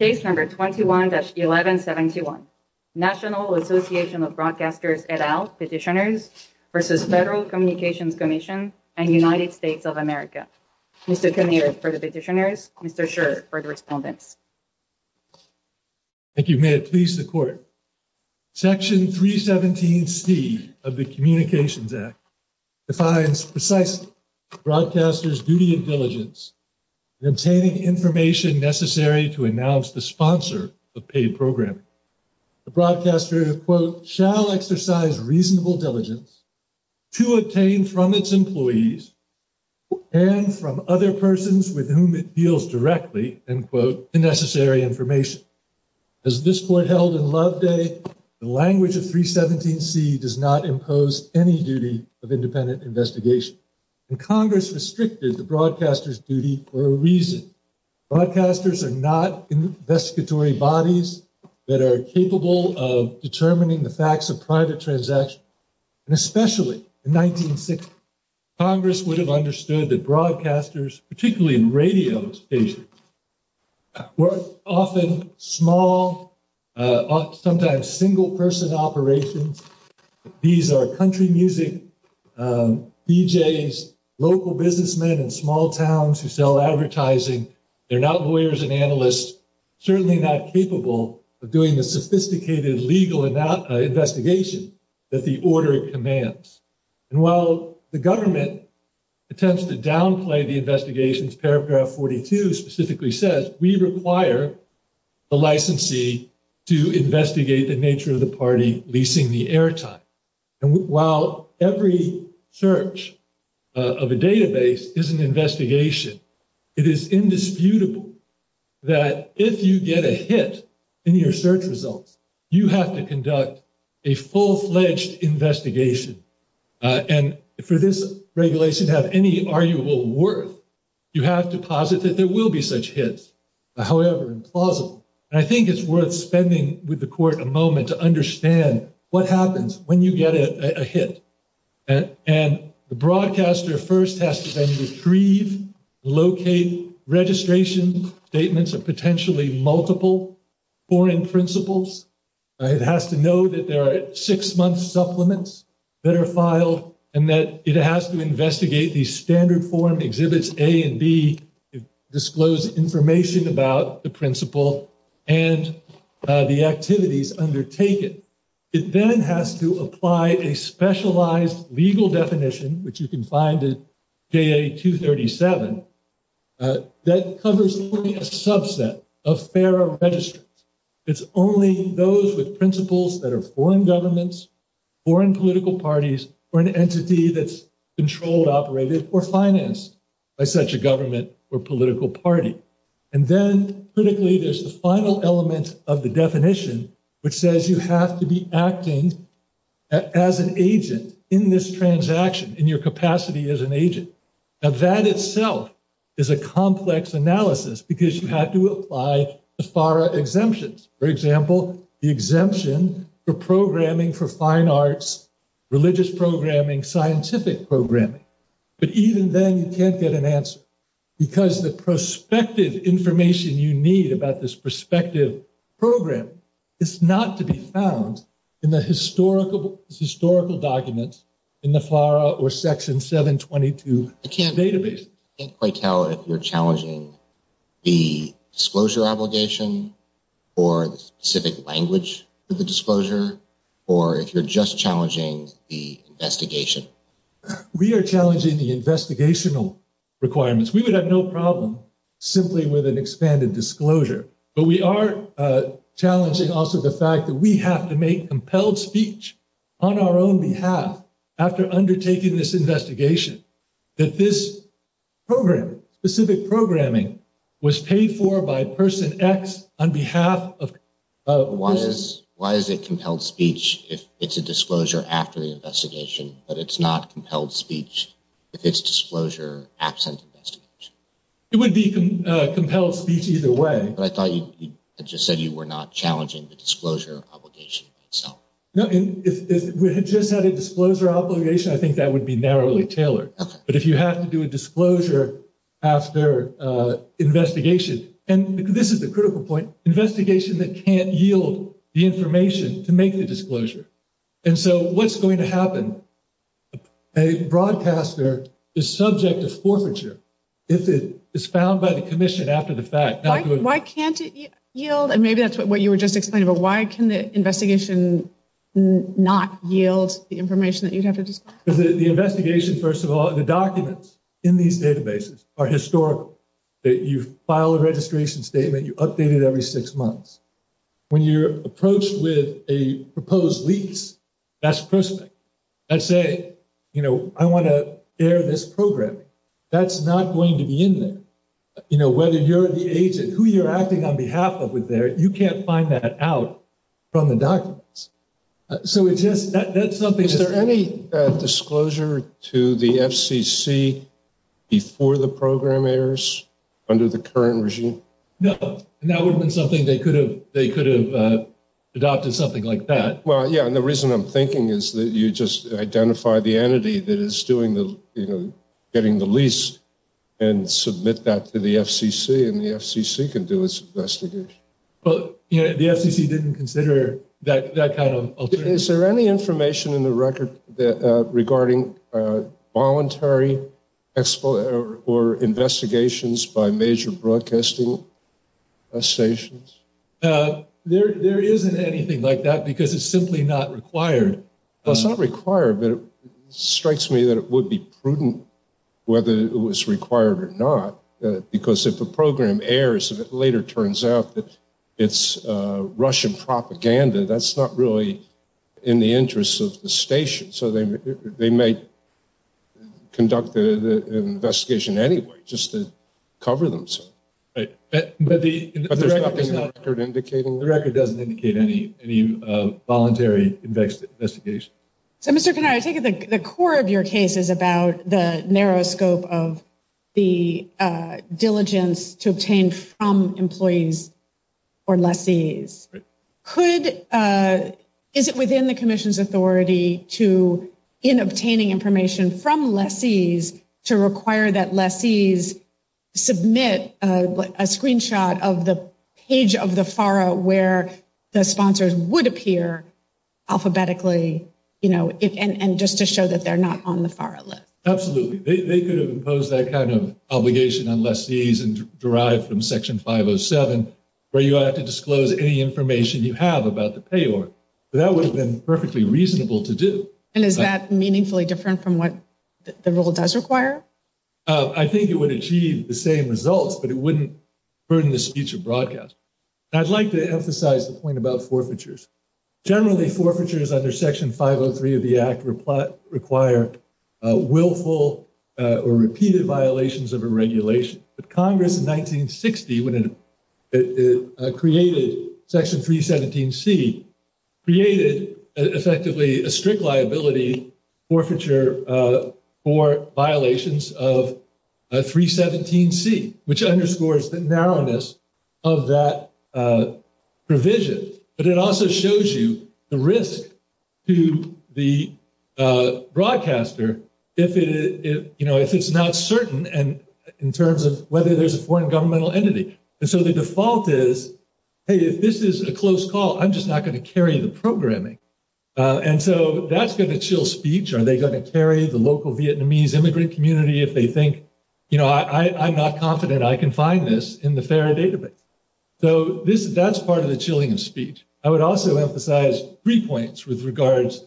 Case number 21-1171, National Association of Broadcasters et al. Petitioners v. Federal Communications Commission and United States of America. Mr. Kinnear for the petitioners, Mr. Scherr for the respondents. Thank you. May it please the court. Section 317C of the Communications Act defines precisely broadcasters' duty and diligence in obtaining information necessary to announce the sponsor of paid programming. The broadcaster, quote, shall exercise reasonable diligence to obtain from its employees and from other persons with whom it deals directly, end quote, the necessary information. As this court held in Loveday, the language of 317C does not impose any duty of independent investigation. And Congress restricted the broadcaster's duty for a reason. Broadcasters are not investigatory bodies that are capable of determining the facts of private transactions. And especially in 1960, Congress would have understood that broadcasters, particularly in radio stations, were often small, sometimes single-person operations. These are country music, DJs, local businessmen in small towns who sell advertising. They're not lawyers and analysts, certainly not capable of doing the sophisticated legal investigation that the order commands. And while the government attempts to downplay the investigations, paragraph 42 specifically says, we require the licensee to investigate the nature of the party leasing the airtime. And while every search of a database is an investigation, it is indisputable that if you get a hit in your search results, you have to conduct a full-fledged investigation. And for this regulation to have any arguable worth, you have to posit that there will be such hits, however implausible. And I think it's worth spending with the court a moment to understand what happens when you get a hit. And the broadcaster first has to then retrieve, locate, registration statements of potentially multiple foreign principals. It has to know that there are six-month supplements that are filed, and that it has to investigate the standard form exhibits A and B, disclose information about the principal, and the activities undertaken. It then has to apply a specialized legal definition, which you can find at JA-237, that covers only a subset of FARA registrants. It's only those with principals that are foreign governments, foreign political parties, or an entity that's controlled, operated, or financed by such a government or political party. And then, critically, there's the final element of the definition, which says you have to be acting as an agent in this transaction, in your capacity as an agent. Now, that itself is a complex analysis, because you have to apply the FARA exemptions. For example, the exemption for programming for fine arts, religious programming, scientific programming. But even then, you can't get an answer, because the prospective information you need about this prospective program is not to be found in the historical documents in the FARA or Section 722 database. I can't quite tell if you're challenging the disclosure obligation, or the specific language for the disclosure, or if you're just challenging the investigation. We are challenging the investigational requirements. We would have no problem simply with an expanded disclosure. But we are challenging also the fact that we have to make compelled speech on our own behalf, after undertaking this investigation, that this program, specific programming, was paid for by person X on behalf of persons X. Why is it compelled speech if it's a disclosure after the investigation, but it's not compelled speech if it's disclosure absent investigation? It would be compelled speech either way. But I thought you just said you were not challenging the disclosure obligation itself. No, if we had just had a disclosure obligation, I think that would be narrowly tailored. But if you have to do a disclosure after investigation, and this is the critical point, investigation that can't yield the information to make the disclosure. And so what's going to happen? A broadcaster is subject to forfeiture if it is found by the commission after the fact. Why can't it yield? And maybe that's what you were just explaining. But why can the investigation not yield the information that you'd have to disclose? Because the investigation, first of all, the documents in these databases are historical. You file a registration statement, you update it every six months. When you're approached with a proposed lease, that's prospect. Let's say, you know, I want to air this programming. That's not going to be in there. You know, whether you're the agent, who you're acting on behalf of with there, you can't find that out from the documents. So it's just, that's something. Is there any disclosure to the FCC before the program airs under the current regime? No, and that would have been something they could have adopted something like that. Yeah, and the reason I'm thinking is that you just identify the entity that is doing the, you know, getting the lease and submit that to the FCC and the FCC can do its investigation. But, you know, the FCC didn't consider that kind of alternative. Is there any information in the record that regarding voluntary or investigations by major broadcasting stations? No, there isn't anything like that because it's simply not required. It's not required, but it strikes me that it would be prudent whether it was required or not. Because if the program airs, if it later turns out that it's Russian propaganda, that's not really in the interests of the station. So they may conduct the investigation anyway, just to cover themselves. But the record doesn't indicate any voluntary investigation. So, Mr. Kanari, I take it the core of your case is about the narrow scope of the diligence to obtain from employees or lessees. Is it within the commission's authority to, in obtaining information from lessees, to require that lessees submit a screenshot of the page of the FARA where the sponsors would appear alphabetically, you know, and just to show that they're not on the FARA list? Absolutely. They could have imposed that kind of obligation on lessees and derived from Section 507, where you have to disclose any information you have about the payor. That would have been perfectly reasonable to do. And is that meaningfully different from what the rule does require? I think it would achieve the same results, but it wouldn't burden the speech or broadcast. I'd like to emphasize the point about forfeitures. Generally, forfeitures under Section 503 of the Act require willful or repeated violations of a regulation. But Congress in 1960, when it created Section 317C, created effectively a strict liability forfeiture for violations of 317C, which underscores the narrowness of that provision. But it also shows you the risk to the broadcaster if it, you know, if it's not certain, and in terms of whether there's a foreign governmental entity. And so the default is, hey, if this is a close call, I'm just not going to carry the programming. And so that's going to chill speech. Are they going to carry the local Vietnamese immigrant community if they think, you know, I'm not confident I can find this in the FARA database? So that's part of the chilling of speech. I would also emphasize three points with regards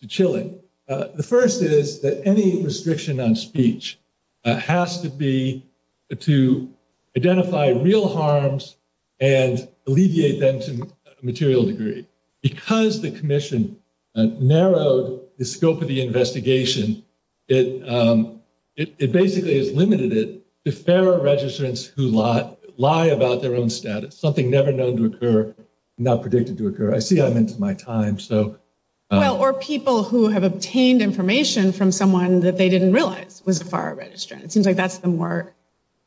to chilling. The first is that any restriction on speech has to be to identify real harms and alleviate them to a material degree. Because the Commission narrowed the scope of the investigation, it basically has limited it to FARA registrants who lie about their own status, something never known to occur, not predicted to occur. I see I'm into my time, so. Well, or people who have obtained information from someone that they didn't realize was a FARA registrant. It seems like that's the more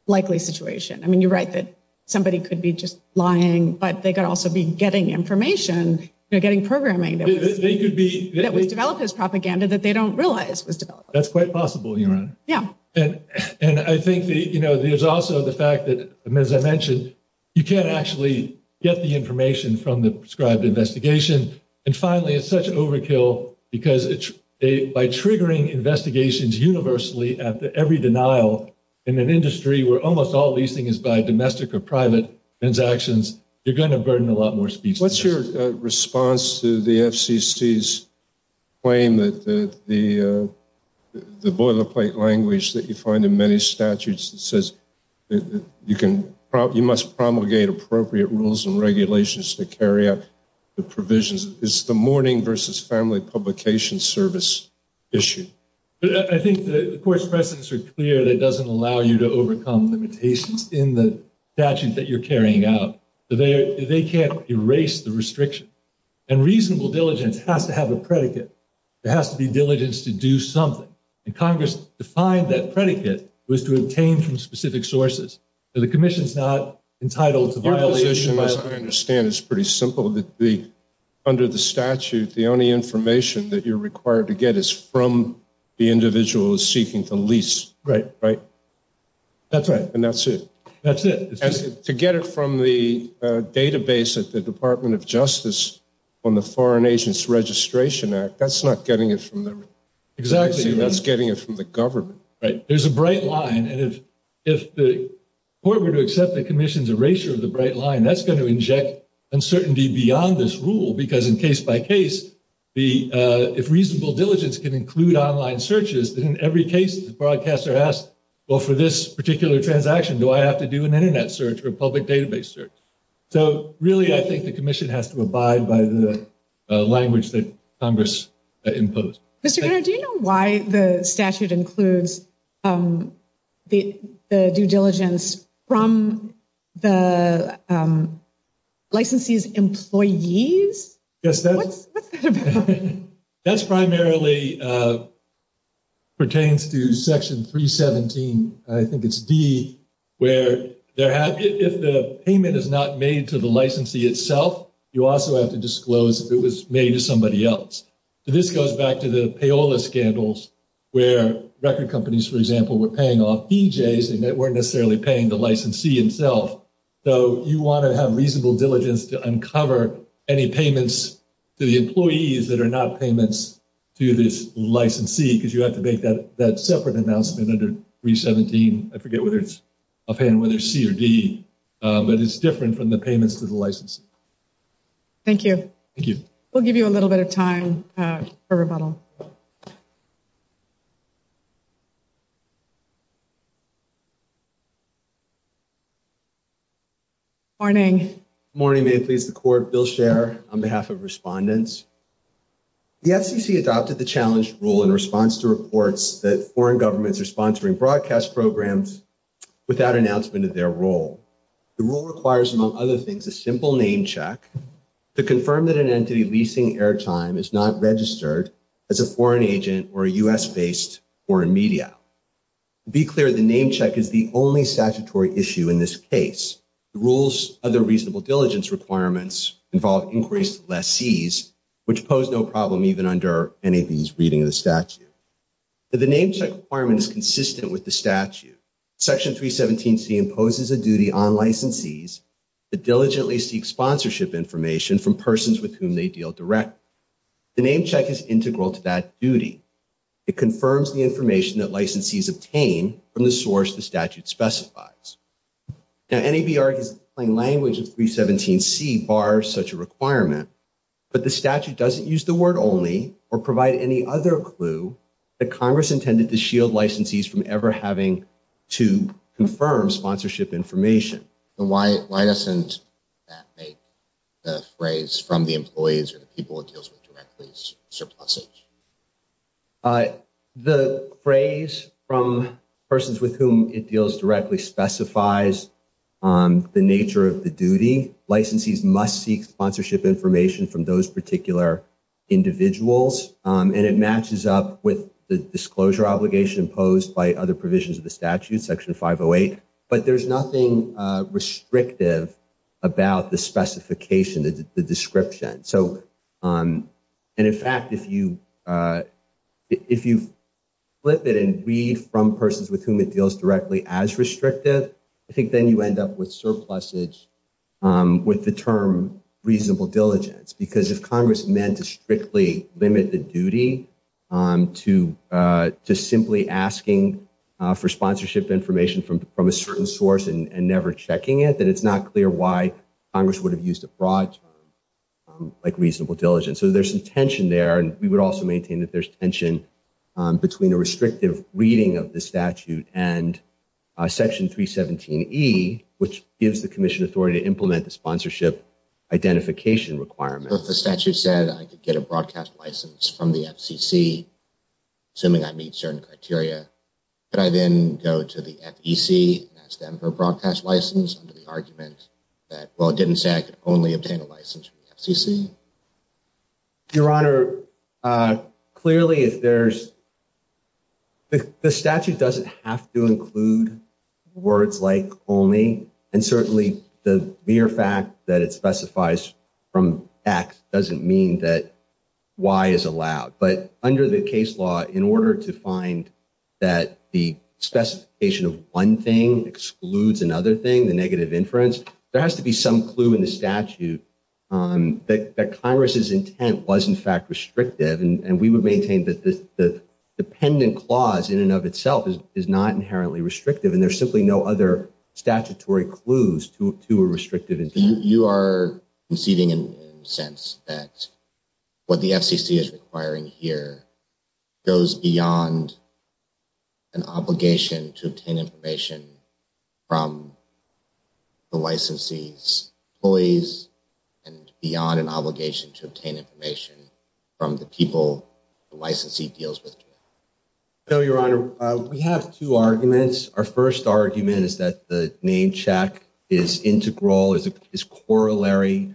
likely situation. I mean, you're right that somebody could be just lying, but they could also be getting information, you know, getting programming that was developed as propaganda that they don't realize was developed. That's quite possible, Your Honor. Yeah. And I think, you know, there's also the fact that, as I mentioned, you can't actually get the information from the prescribed investigation. And finally, it's such an overkill because by triggering investigations universally after every denial in an industry where almost all leasing is by domestic or private transactions, you're going to burden a lot more speech. What's your response to the FCC's claim that the boilerplate language that you find in many statutes that says you must promulgate appropriate rules and regulations to carry out the provisions is the mourning versus family publication service issue? I think the Court's precedents are clear that it doesn't allow you to overcome limitations in the statute that you're carrying out. They can't erase the restriction. And reasonable diligence has to have a predicate. There has to be diligence to do something. And Congress defined that predicate was to obtain from specific sources. The Commission's not entitled to violate— As far as I understand, it's pretty simple, that under the statute, the only information that you're required to get is from the individual seeking to lease. Right. Right? That's right. And that's it. That's it. To get it from the database at the Department of Justice on the Foreign Agents Registration Act, that's not getting it from them. Exactly. That's getting it from the government. Right. There's a bright line. And if the Court were to accept the Commission's erasure of the bright line, that's going to inject uncertainty beyond this rule. Because in case by case, if reasonable diligence can include online searches, then in every case, the broadcaster asks, well, for this particular transaction, do I have to do an internet search or a public database search? So really, I think the Commission has to abide by the language that Congress imposed. Mr. Gunner, do you know why the statute includes the due diligence from the licensee's employees? Yes. That's primarily pertains to Section 317. I think it's D, where if the payment is not made to the licensee itself, you also have to disclose if it was made to somebody else. This goes back to the payola scandals, where record companies, for example, were paying off DJs, and they weren't necessarily paying the licensee himself. So you want to have reasonable diligence to uncover any payments to the employees that are not payments to this licensee, because you have to make that separate announcement under 317. I forget whether it's offhand, whether it's C or D. But it's different from the payments to the licensee. Thank you. Thank you. We'll give you a little bit of time for rebuttal. Morning. Good morning. May it please the Court. Bill Scher, on behalf of respondents. The FCC adopted the challenge rule in response to reports that foreign governments are sponsoring broadcast programs without announcement of their role. The rule requires, among other things, a simple name check to confirm that an entity leasing airtime is not registered as a foreign agent or a U.S.-based foreign media. Be clear, the name check is the only statutory issue in this case. The rules of the reasonable diligence requirements involve increased lessees, which pose no problem even under NAB's reading of the statute. The name check requirement is consistent with the statute. Section 317C imposes a duty on licensees to diligently seek sponsorship information from persons with whom they deal directly. The name check is integral to that duty. It confirms the information that licensees obtain from the source the statute specifies. Now, NAB argues the plain language of 317C bars such a requirement, but the statute doesn't use the word only or provide any other clue that Congress intended to shield licensees from ever having to confirm sponsorship information. Why doesn't that make the phrase, from the employees or the people it deals with directly, surplusage? The phrase, from persons with whom it deals directly, specifies the nature of the duty. Licensees must seek sponsorship information from those particular individuals, and it matches up with the disclosure obligation imposed by other provisions of the statute, Section 508. But there's nothing restrictive about the specification, the description. And in fact, if you flip it and read from persons with whom it deals directly as restrictive, I think then you end up with surplusage with the term reasonable diligence. Because if Congress meant to strictly limit the duty to simply asking for sponsorship information from a certain source and never checking it, then it's not clear why Congress would have used a broad term like reasonable diligence. So there's some tension there. And we would also maintain that there's tension between a restrictive reading of the statute and Section 317E, which gives the commission authority to implement the sponsorship identification requirement. If the statute said I could get a broadcast license from the FCC, assuming I meet certain criteria, could I then go to the FEC and ask them for a broadcast license under the argument that, well, it didn't say I could only obtain a license from the FCC? Your Honor, clearly, the statute doesn't have to include words like only. And certainly, the mere fact that it specifies from X doesn't mean that Y is allowed. But under the case law, in order to find that the specification of one thing excludes another thing, the negative inference, there has to be some clue in the statute that Congress's intent was, in fact, restrictive. And we would maintain that the dependent clause in and of itself is not inherently restrictive. And there's simply no other statutory clues to a restrictive intent. You are conceding, in a sense, that what the FCC is requiring here goes beyond an obligation to obtain information from the licensee's employees and beyond an obligation to obtain information from the people the licensee deals with. No, Your Honor. We have two arguments. Our first argument is that the name check is integral, is corollary,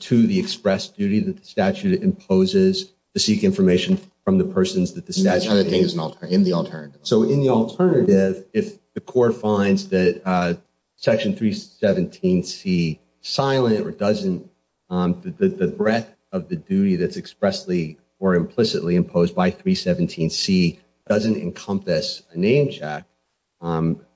to the express duty that the statute imposes to seek information from the persons that the statute... And the other thing is in the alternative. So in the alternative, if the court finds that Section 317C silent or doesn't, the breadth of the duty that's expressly or implicitly imposed by 317C doesn't encompass a name check,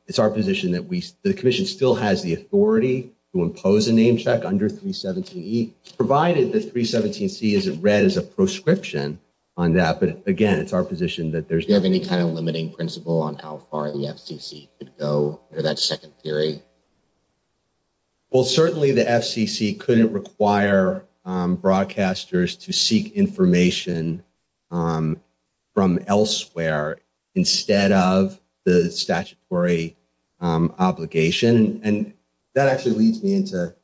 it's our position that the commission still has the authority to impose a name check under 317E, provided that 317C isn't read as a proscription on that. But again, it's our position that there's... Do you have any kind of limiting principle on how far the FCC could go under that second theory? Well, certainly the FCC couldn't require broadcasters to seek information from elsewhere instead of the statutory obligation. And that actually leads me into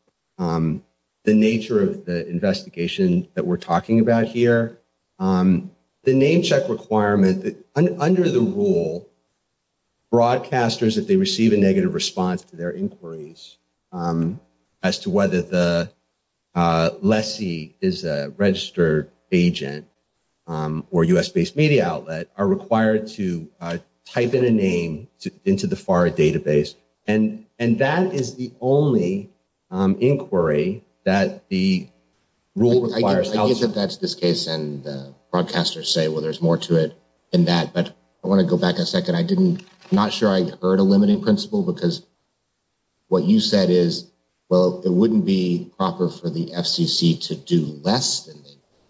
the nature of the investigation that we're talking about here. The name check requirement, under the rule, broadcasters, if they receive a negative response to their inquiries as to whether the lessee is a registered agent or US-based media outlet, are required to type in a name into the FAR database. And that is the only inquiry that the rule requires. I get that that's this case and the broadcasters say, well, there's more to it than that. But I want to go back a second. Not sure I heard a limiting principle because what you said is, well, it wouldn't be proper for the FCC to do less than they've done.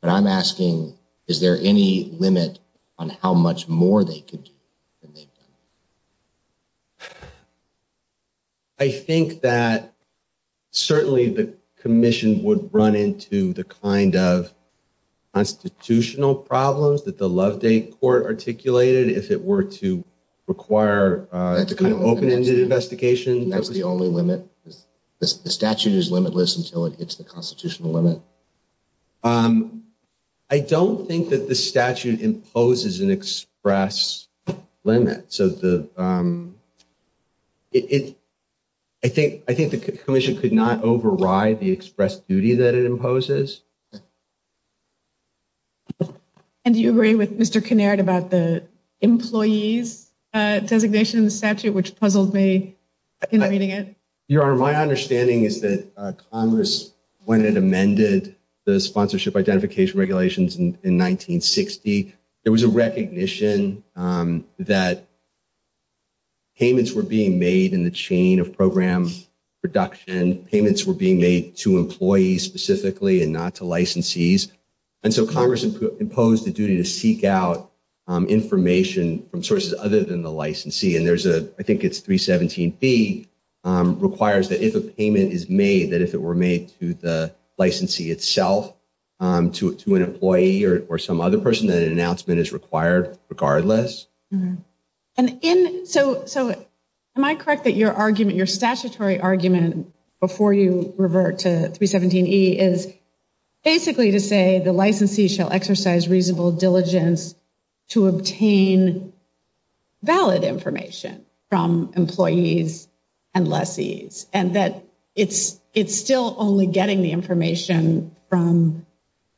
But I'm asking, is there any limit on how much more they could do than they've done? I think that certainly the commission would run into the kind of constitutional problems that the Loveday Court articulated if it were to require the kind of open-ended investigation. And that's the only limit? The statute is limitless until it hits the constitutional limit? I don't think that the statute imposes an express limit. So I think the commission could not override the express duty that it imposes. And do you agree with Mr. Kinnard about the employee's designation in the statute, which puzzled me in reading it? Your Honor, my understanding is that Congress, when it amended the sponsorship identification regulations in 1960, there was a recognition that payments were being made in the chain of program production. Payments were being made to employees specifically and not to licensees. And so Congress imposed the duty to seek out information from sources other than the licensee. And there's a, I think it's 317B, requires that if a payment is made, that if it were made to the licensee itself, to an employee or some other person, that an announcement is required regardless. And so am I correct that your argument, your statutory argument before you revert to 317E is basically to say the licensee shall exercise reasonable diligence to obtain valid information from employees and lessees. And that it's still only getting the information from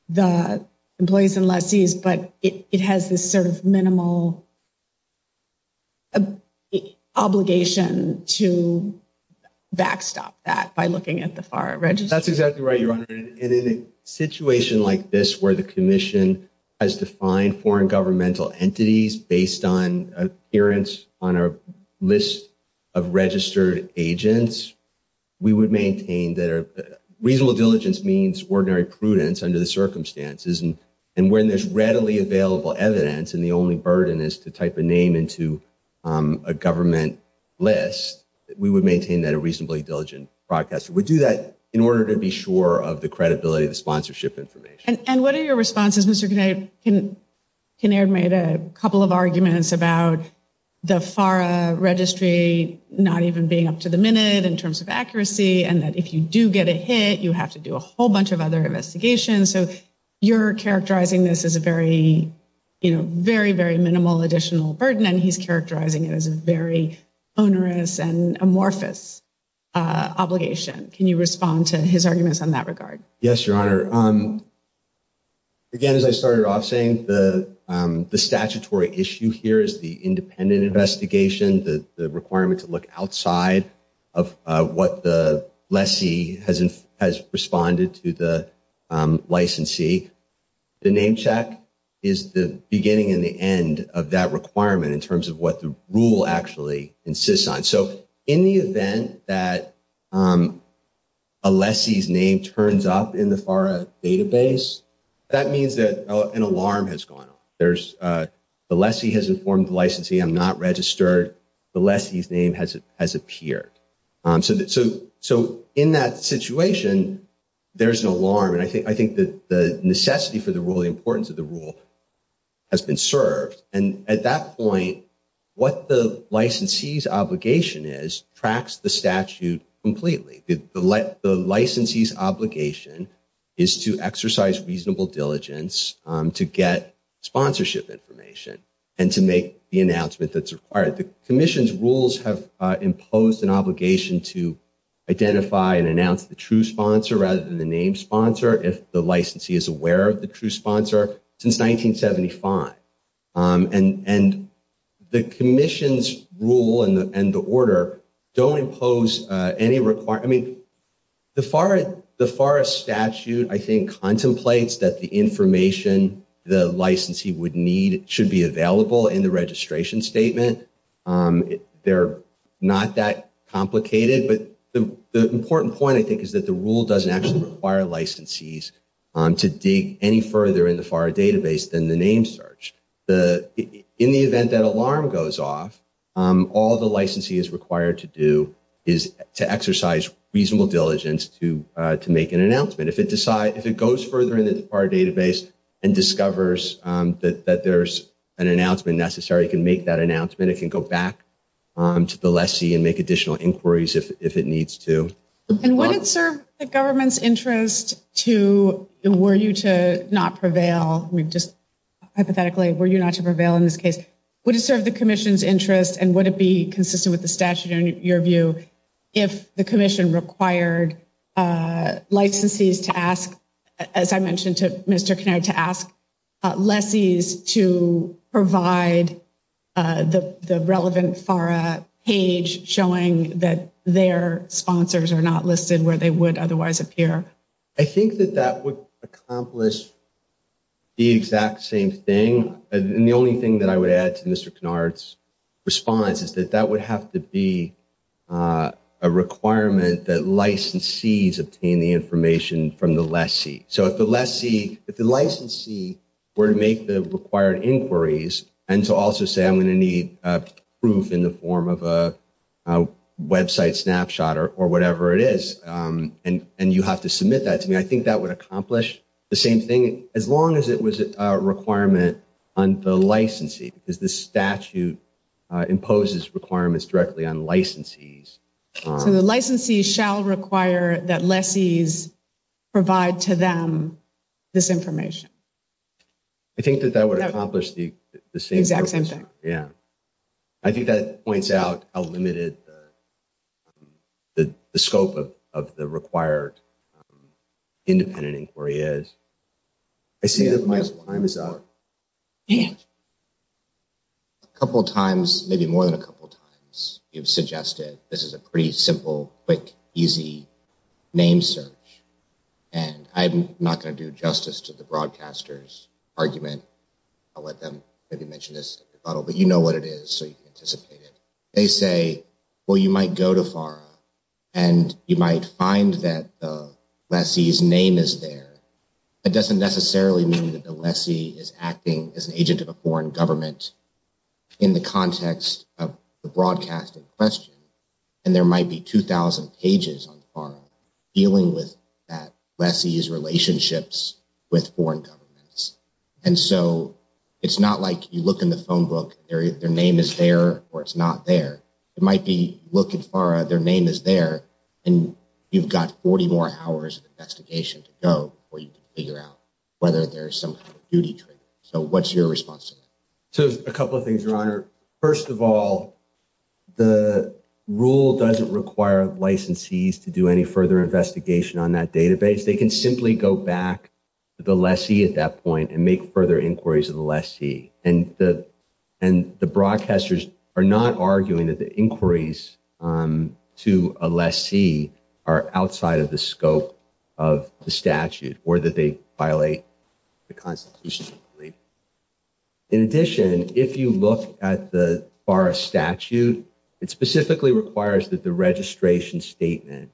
the employees and lessees, but it has this sort of minimal obligation to backstop that by looking at the FARA registry? That's exactly right, Your Honor. And in a situation like this, where the commission has defined foreign governmental entities based on an appearance on a list of registered agents, we would maintain that reasonable diligence means ordinary prudence under the circumstances. And when there's readily available evidence and the only burden is to type a name into a government list, we would maintain that a reasonably diligent broadcaster would do that in order to be sure of the credibility of the sponsorship information. And what are your responses? Mr. Kinnaird made a couple of arguments about the FARA registry not even being up to the minute in terms of accuracy, and that if you do get a hit, you have to do a whole bunch of other investigations. So you're characterizing this as a very, very, very minimal additional burden, and he's characterizing it as a very onerous and amorphous obligation. Can you respond to his arguments in that regard? Yes, Your Honor. Again, as I started off saying, the statutory issue here is the independent investigation, the requirement to look outside of what the lessee has responded to the licensee. The name check is the beginning and the end of that requirement in terms of what the rule actually insists on. In the event that a lessee's name turns up in the FARA database, that means that an alarm has gone off. The lessee has informed the licensee, I'm not registered. The lessee's name has appeared. So in that situation, there's an alarm, and I think the necessity for the rule, the importance of the rule has been served. And at that point, what the licensee's obligation is tracks the statute completely. The licensee's obligation is to exercise reasonable diligence to get sponsorship information and to make the announcement that's required. The commission's rules have imposed an obligation to identify and announce the true sponsor rather than the name sponsor if the licensee is aware of the true sponsor since 1975. And the commission's rule and the order don't impose any requirement. I mean, the FARA statute, I think, contemplates that the information the licensee would need should be available in the registration statement. They're not that complicated, but the important point, I think, is that the rule doesn't actually require licensees to dig any further in the FARA database than the name search. The in the event that alarm goes off, all the licensee is required to do is to exercise reasonable diligence to make an announcement. If it goes further in the FARA database and discovers that there's an announcement necessary, it can make that announcement. It can go back to the lessee and make additional inquiries if it needs to. And would it serve the government's interest to, were you to not prevail? We've just hypothetically, were you not to prevail in this case? Would it serve the commission's interest and would it be consistent with the statute in your view if the commission required licensees to ask, as I mentioned to Mr. Kinnear, to ask lessees to provide the relevant FARA page showing that their sponsors are not listed where they would otherwise appear? I think that that would accomplish the exact same thing. The only thing that I would add to Mr. Kinnear's response is that that would have to be a requirement that licensees obtain the information from the lessee. So if the lessee, if the licensee were to make the required inquiries and to also say, I'm going to need proof in the form of a website snapshot or whatever it is, and you have to submit that to me, I think that would accomplish the same thing as long as it was a requirement on the licensee, because the statute imposes requirements directly on licensees. So the licensee shall require that lessees provide to them this information. I think that that would accomplish the exact same thing. Yeah. I think that points out how limited the scope of the required independent inquiry is. I see that my time is up. And a couple of times, maybe more than a couple of times, you've suggested this is a pretty simple, quick, easy name search. And I'm not going to do justice to the broadcaster's argument. I'll let them maybe mention this, but you know what it is, so you can anticipate it. They say, well, you might go to FARA and you might find that the lessee's name is there. That doesn't necessarily mean that the lessee is acting as an agent of a foreign government in the context of the broadcasting question. And there might be 2,000 pages on FARA dealing with that lessee's relationships with foreign governments. And so it's not like you look in the phone book, their name is there or it's not there. It might be, look at FARA, their name is there, and you've got 40 more hours of investigation to go before you can figure out whether there's some kind of duty trigger. So what's your response to that? So a couple of things, Your Honor. First of all, the rule doesn't require licensees to do any further investigation on that database. They can simply go back to the lessee at that point and make further inquiries to the lessee. And the broadcasters are not arguing that the inquiries to a lessee are outside of the scope of the statute or that they violate the Constitution. In addition, if you look at the FARA statute, it specifically requires that the registration statement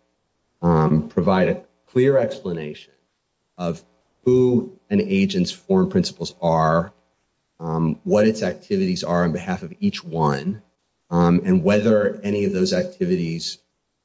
provide a clear explanation of who an agent's foreign principles are, what its activities are on behalf of each one, and whether any of those activities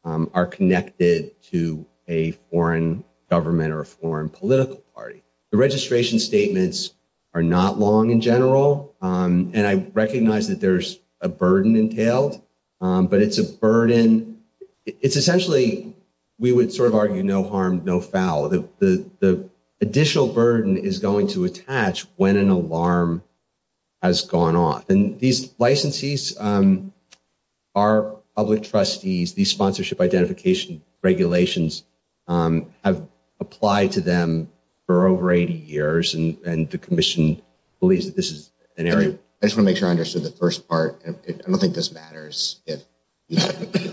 are connected to a foreign government or a foreign political party. The registration statements are not long in general, and I recognize that there's a burden entailed, but it's a burden, it's essentially, we would sort of argue, no harm, no foul. The additional burden is going to attach when an alarm has gone off. These licensees, our public trustees, these sponsorship identification regulations have applied to them for over 80 years, and the Commission believes that this is an area. I just want to make sure I understood the first part. I don't think this matters if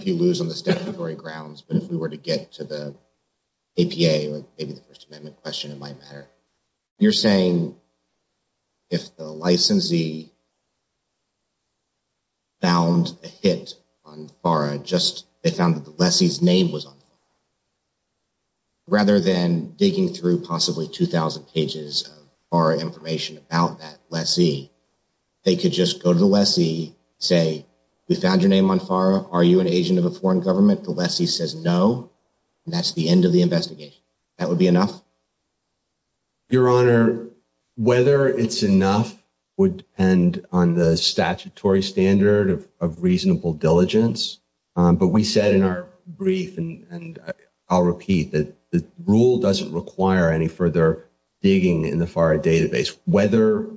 you lose on the statutory grounds, but if we were to get to the APA, or maybe the First Amendment question, it might matter. You're saying if the licensee found a hit on FARA, just they found that the lessee's name was on the FARA, rather than digging through possibly 2,000 pages of FARA information about that lessee, they could just go to the lessee, say, we found your name on FARA, are you an agent of a foreign government? The lessee says no, and that's the end of the investigation. That would be enough? Your Honor, whether it's enough would depend on the statutory standard of reasonable diligence, but we said in our brief, and I'll repeat, that the rule doesn't require any further digging in the FARA database. Whether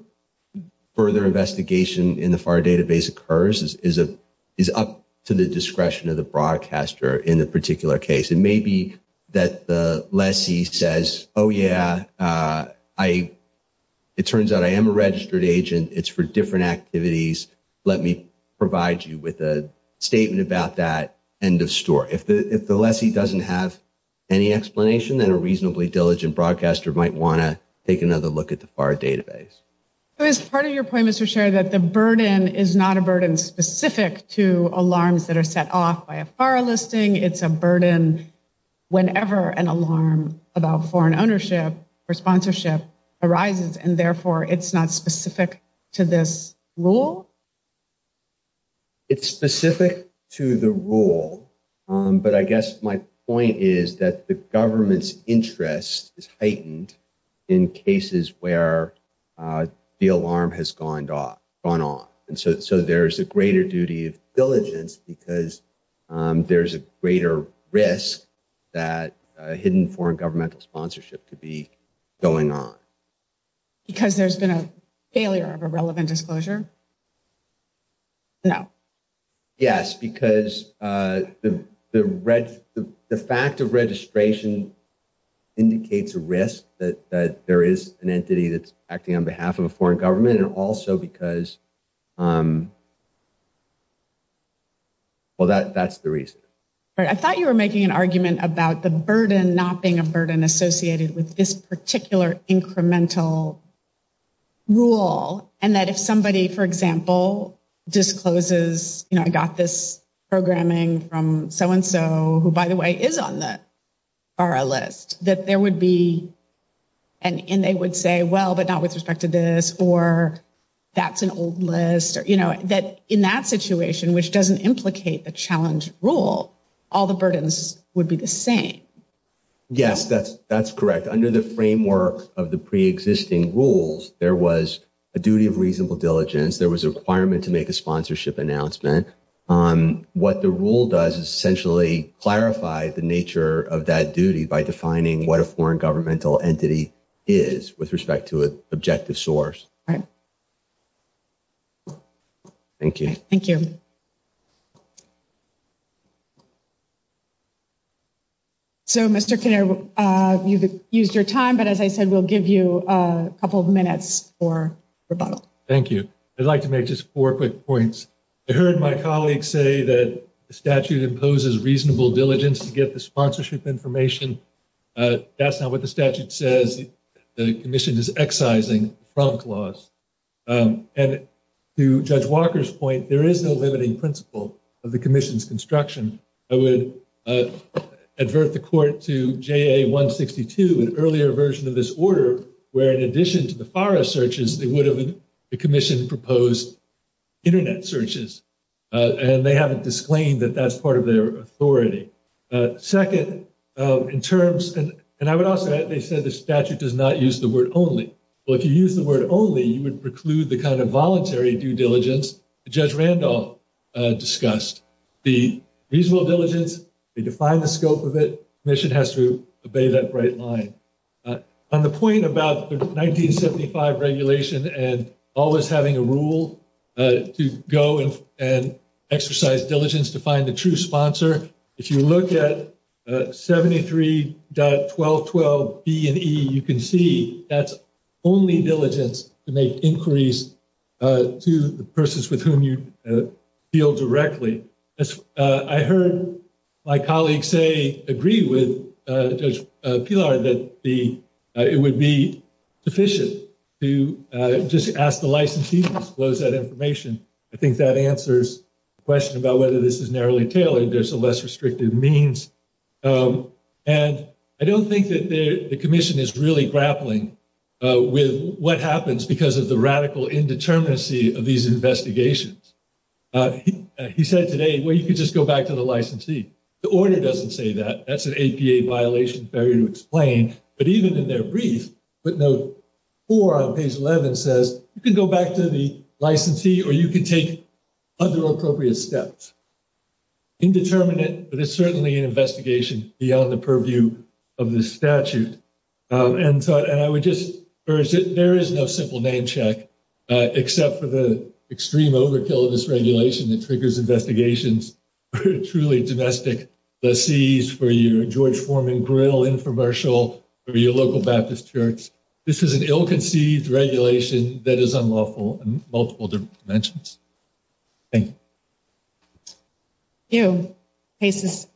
further investigation in the FARA database occurs is up to the discretion of the broadcaster in the particular case. It may be that the lessee says, oh yeah, it turns out I am a registered agent, it's for different activities, let me provide you with a statement about that, end of story. If the lessee doesn't have any explanation, then a reasonably diligent broadcaster might want to take another look at the FARA database. It's part of your point, Mr. Scherer, that the burden is not a burden specific to alarms that are set off by a FARA listing, it's a burden whenever an alarm about foreign ownership or sponsorship arises, and therefore it's not specific to this rule? It's specific to the rule, but I guess my point is that the government's interest is heightened in cases where the alarm has gone off, and so there's a greater duty of diligence because there's a greater risk that a hidden foreign governmental sponsorship could be going on. Because there's been a failure of a relevant disclosure? No. Yes, because the fact of registration indicates a risk that there is an entity that's acting on behalf of a foreign government, and also because, well, that's the reason. I thought you were making an argument about the burden not being a burden associated with this particular incremental rule, and that if somebody, for example, discloses, you know, I got this programming from so-and-so who, by the way, is on the FARA list, that there would be, and they would say, well, but not with respect to this, or that's an old list, you know, that in that situation, which doesn't implicate the challenge rule, all the burdens would be the same. Yes, that's correct. Under the framework of the pre-existing rules, there was a duty of reasonable diligence. There was a requirement to make a sponsorship announcement. What the rule does is essentially clarify the nature of that duty by defining what a foreign governmental entity is with respect to an objective source. All right. Thank you. Thank you. So, Mr. Kinnear, you've used your time, but as I said, we'll give you a couple of minutes for rebuttal. Thank you. I'd like to make just four quick points. I heard my colleague say that the statute imposes reasonable diligence to get the sponsorship information. That's not what the statute says. The commission is excising the Frunk Laws. And to Judge Walker's point, there is no limiting principle of the commission's construction. I would advert the court to JA-162, an earlier version of this order, where in addition to the FARA searches, they would have, the commission proposed internet searches. And they haven't disclaimed that that's part of their authority. Second, in terms, and I would also add, they said the statute does not use the word only. Well, if you use the word only, you would preclude the kind of voluntary due diligence that Judge Randolph discussed. The reasonable diligence, they define the scope of it. Commission has to obey that bright line. On the point about the 1975 regulation and always having a rule to go and exercise diligence to find the true sponsor, if you look at 73.1212B and E, you can see that's only diligence to make inquiries to the persons with whom you feel directly. I heard my colleagues say, agree with Judge Pillar, that it would be sufficient to just ask the licensee to disclose that information. I think that answers the question about whether this is narrowly tailored, there's a less restrictive means. And I don't think that the commission is really grappling with what happens because of the radical indeterminacy of these investigations. He said today, well, you could just go back to the licensee. The order doesn't say that. That's an APA violation failure to explain. But even in their brief, footnote four on page 11 says, you can go back to the licensee or you can take other appropriate steps. Indeterminate, but it's certainly an investigation beyond the purview of the statute. And I would just urge that there is no simple name check, except for the extreme overkill of this regulation that triggers investigations for truly domestic lessees, for your George Foreman Grinnell infomercial, or your local Baptist church. This is an ill-conceived regulation that is unlawful in multiple dimensions. Thank you. Thank you. Case is submitted.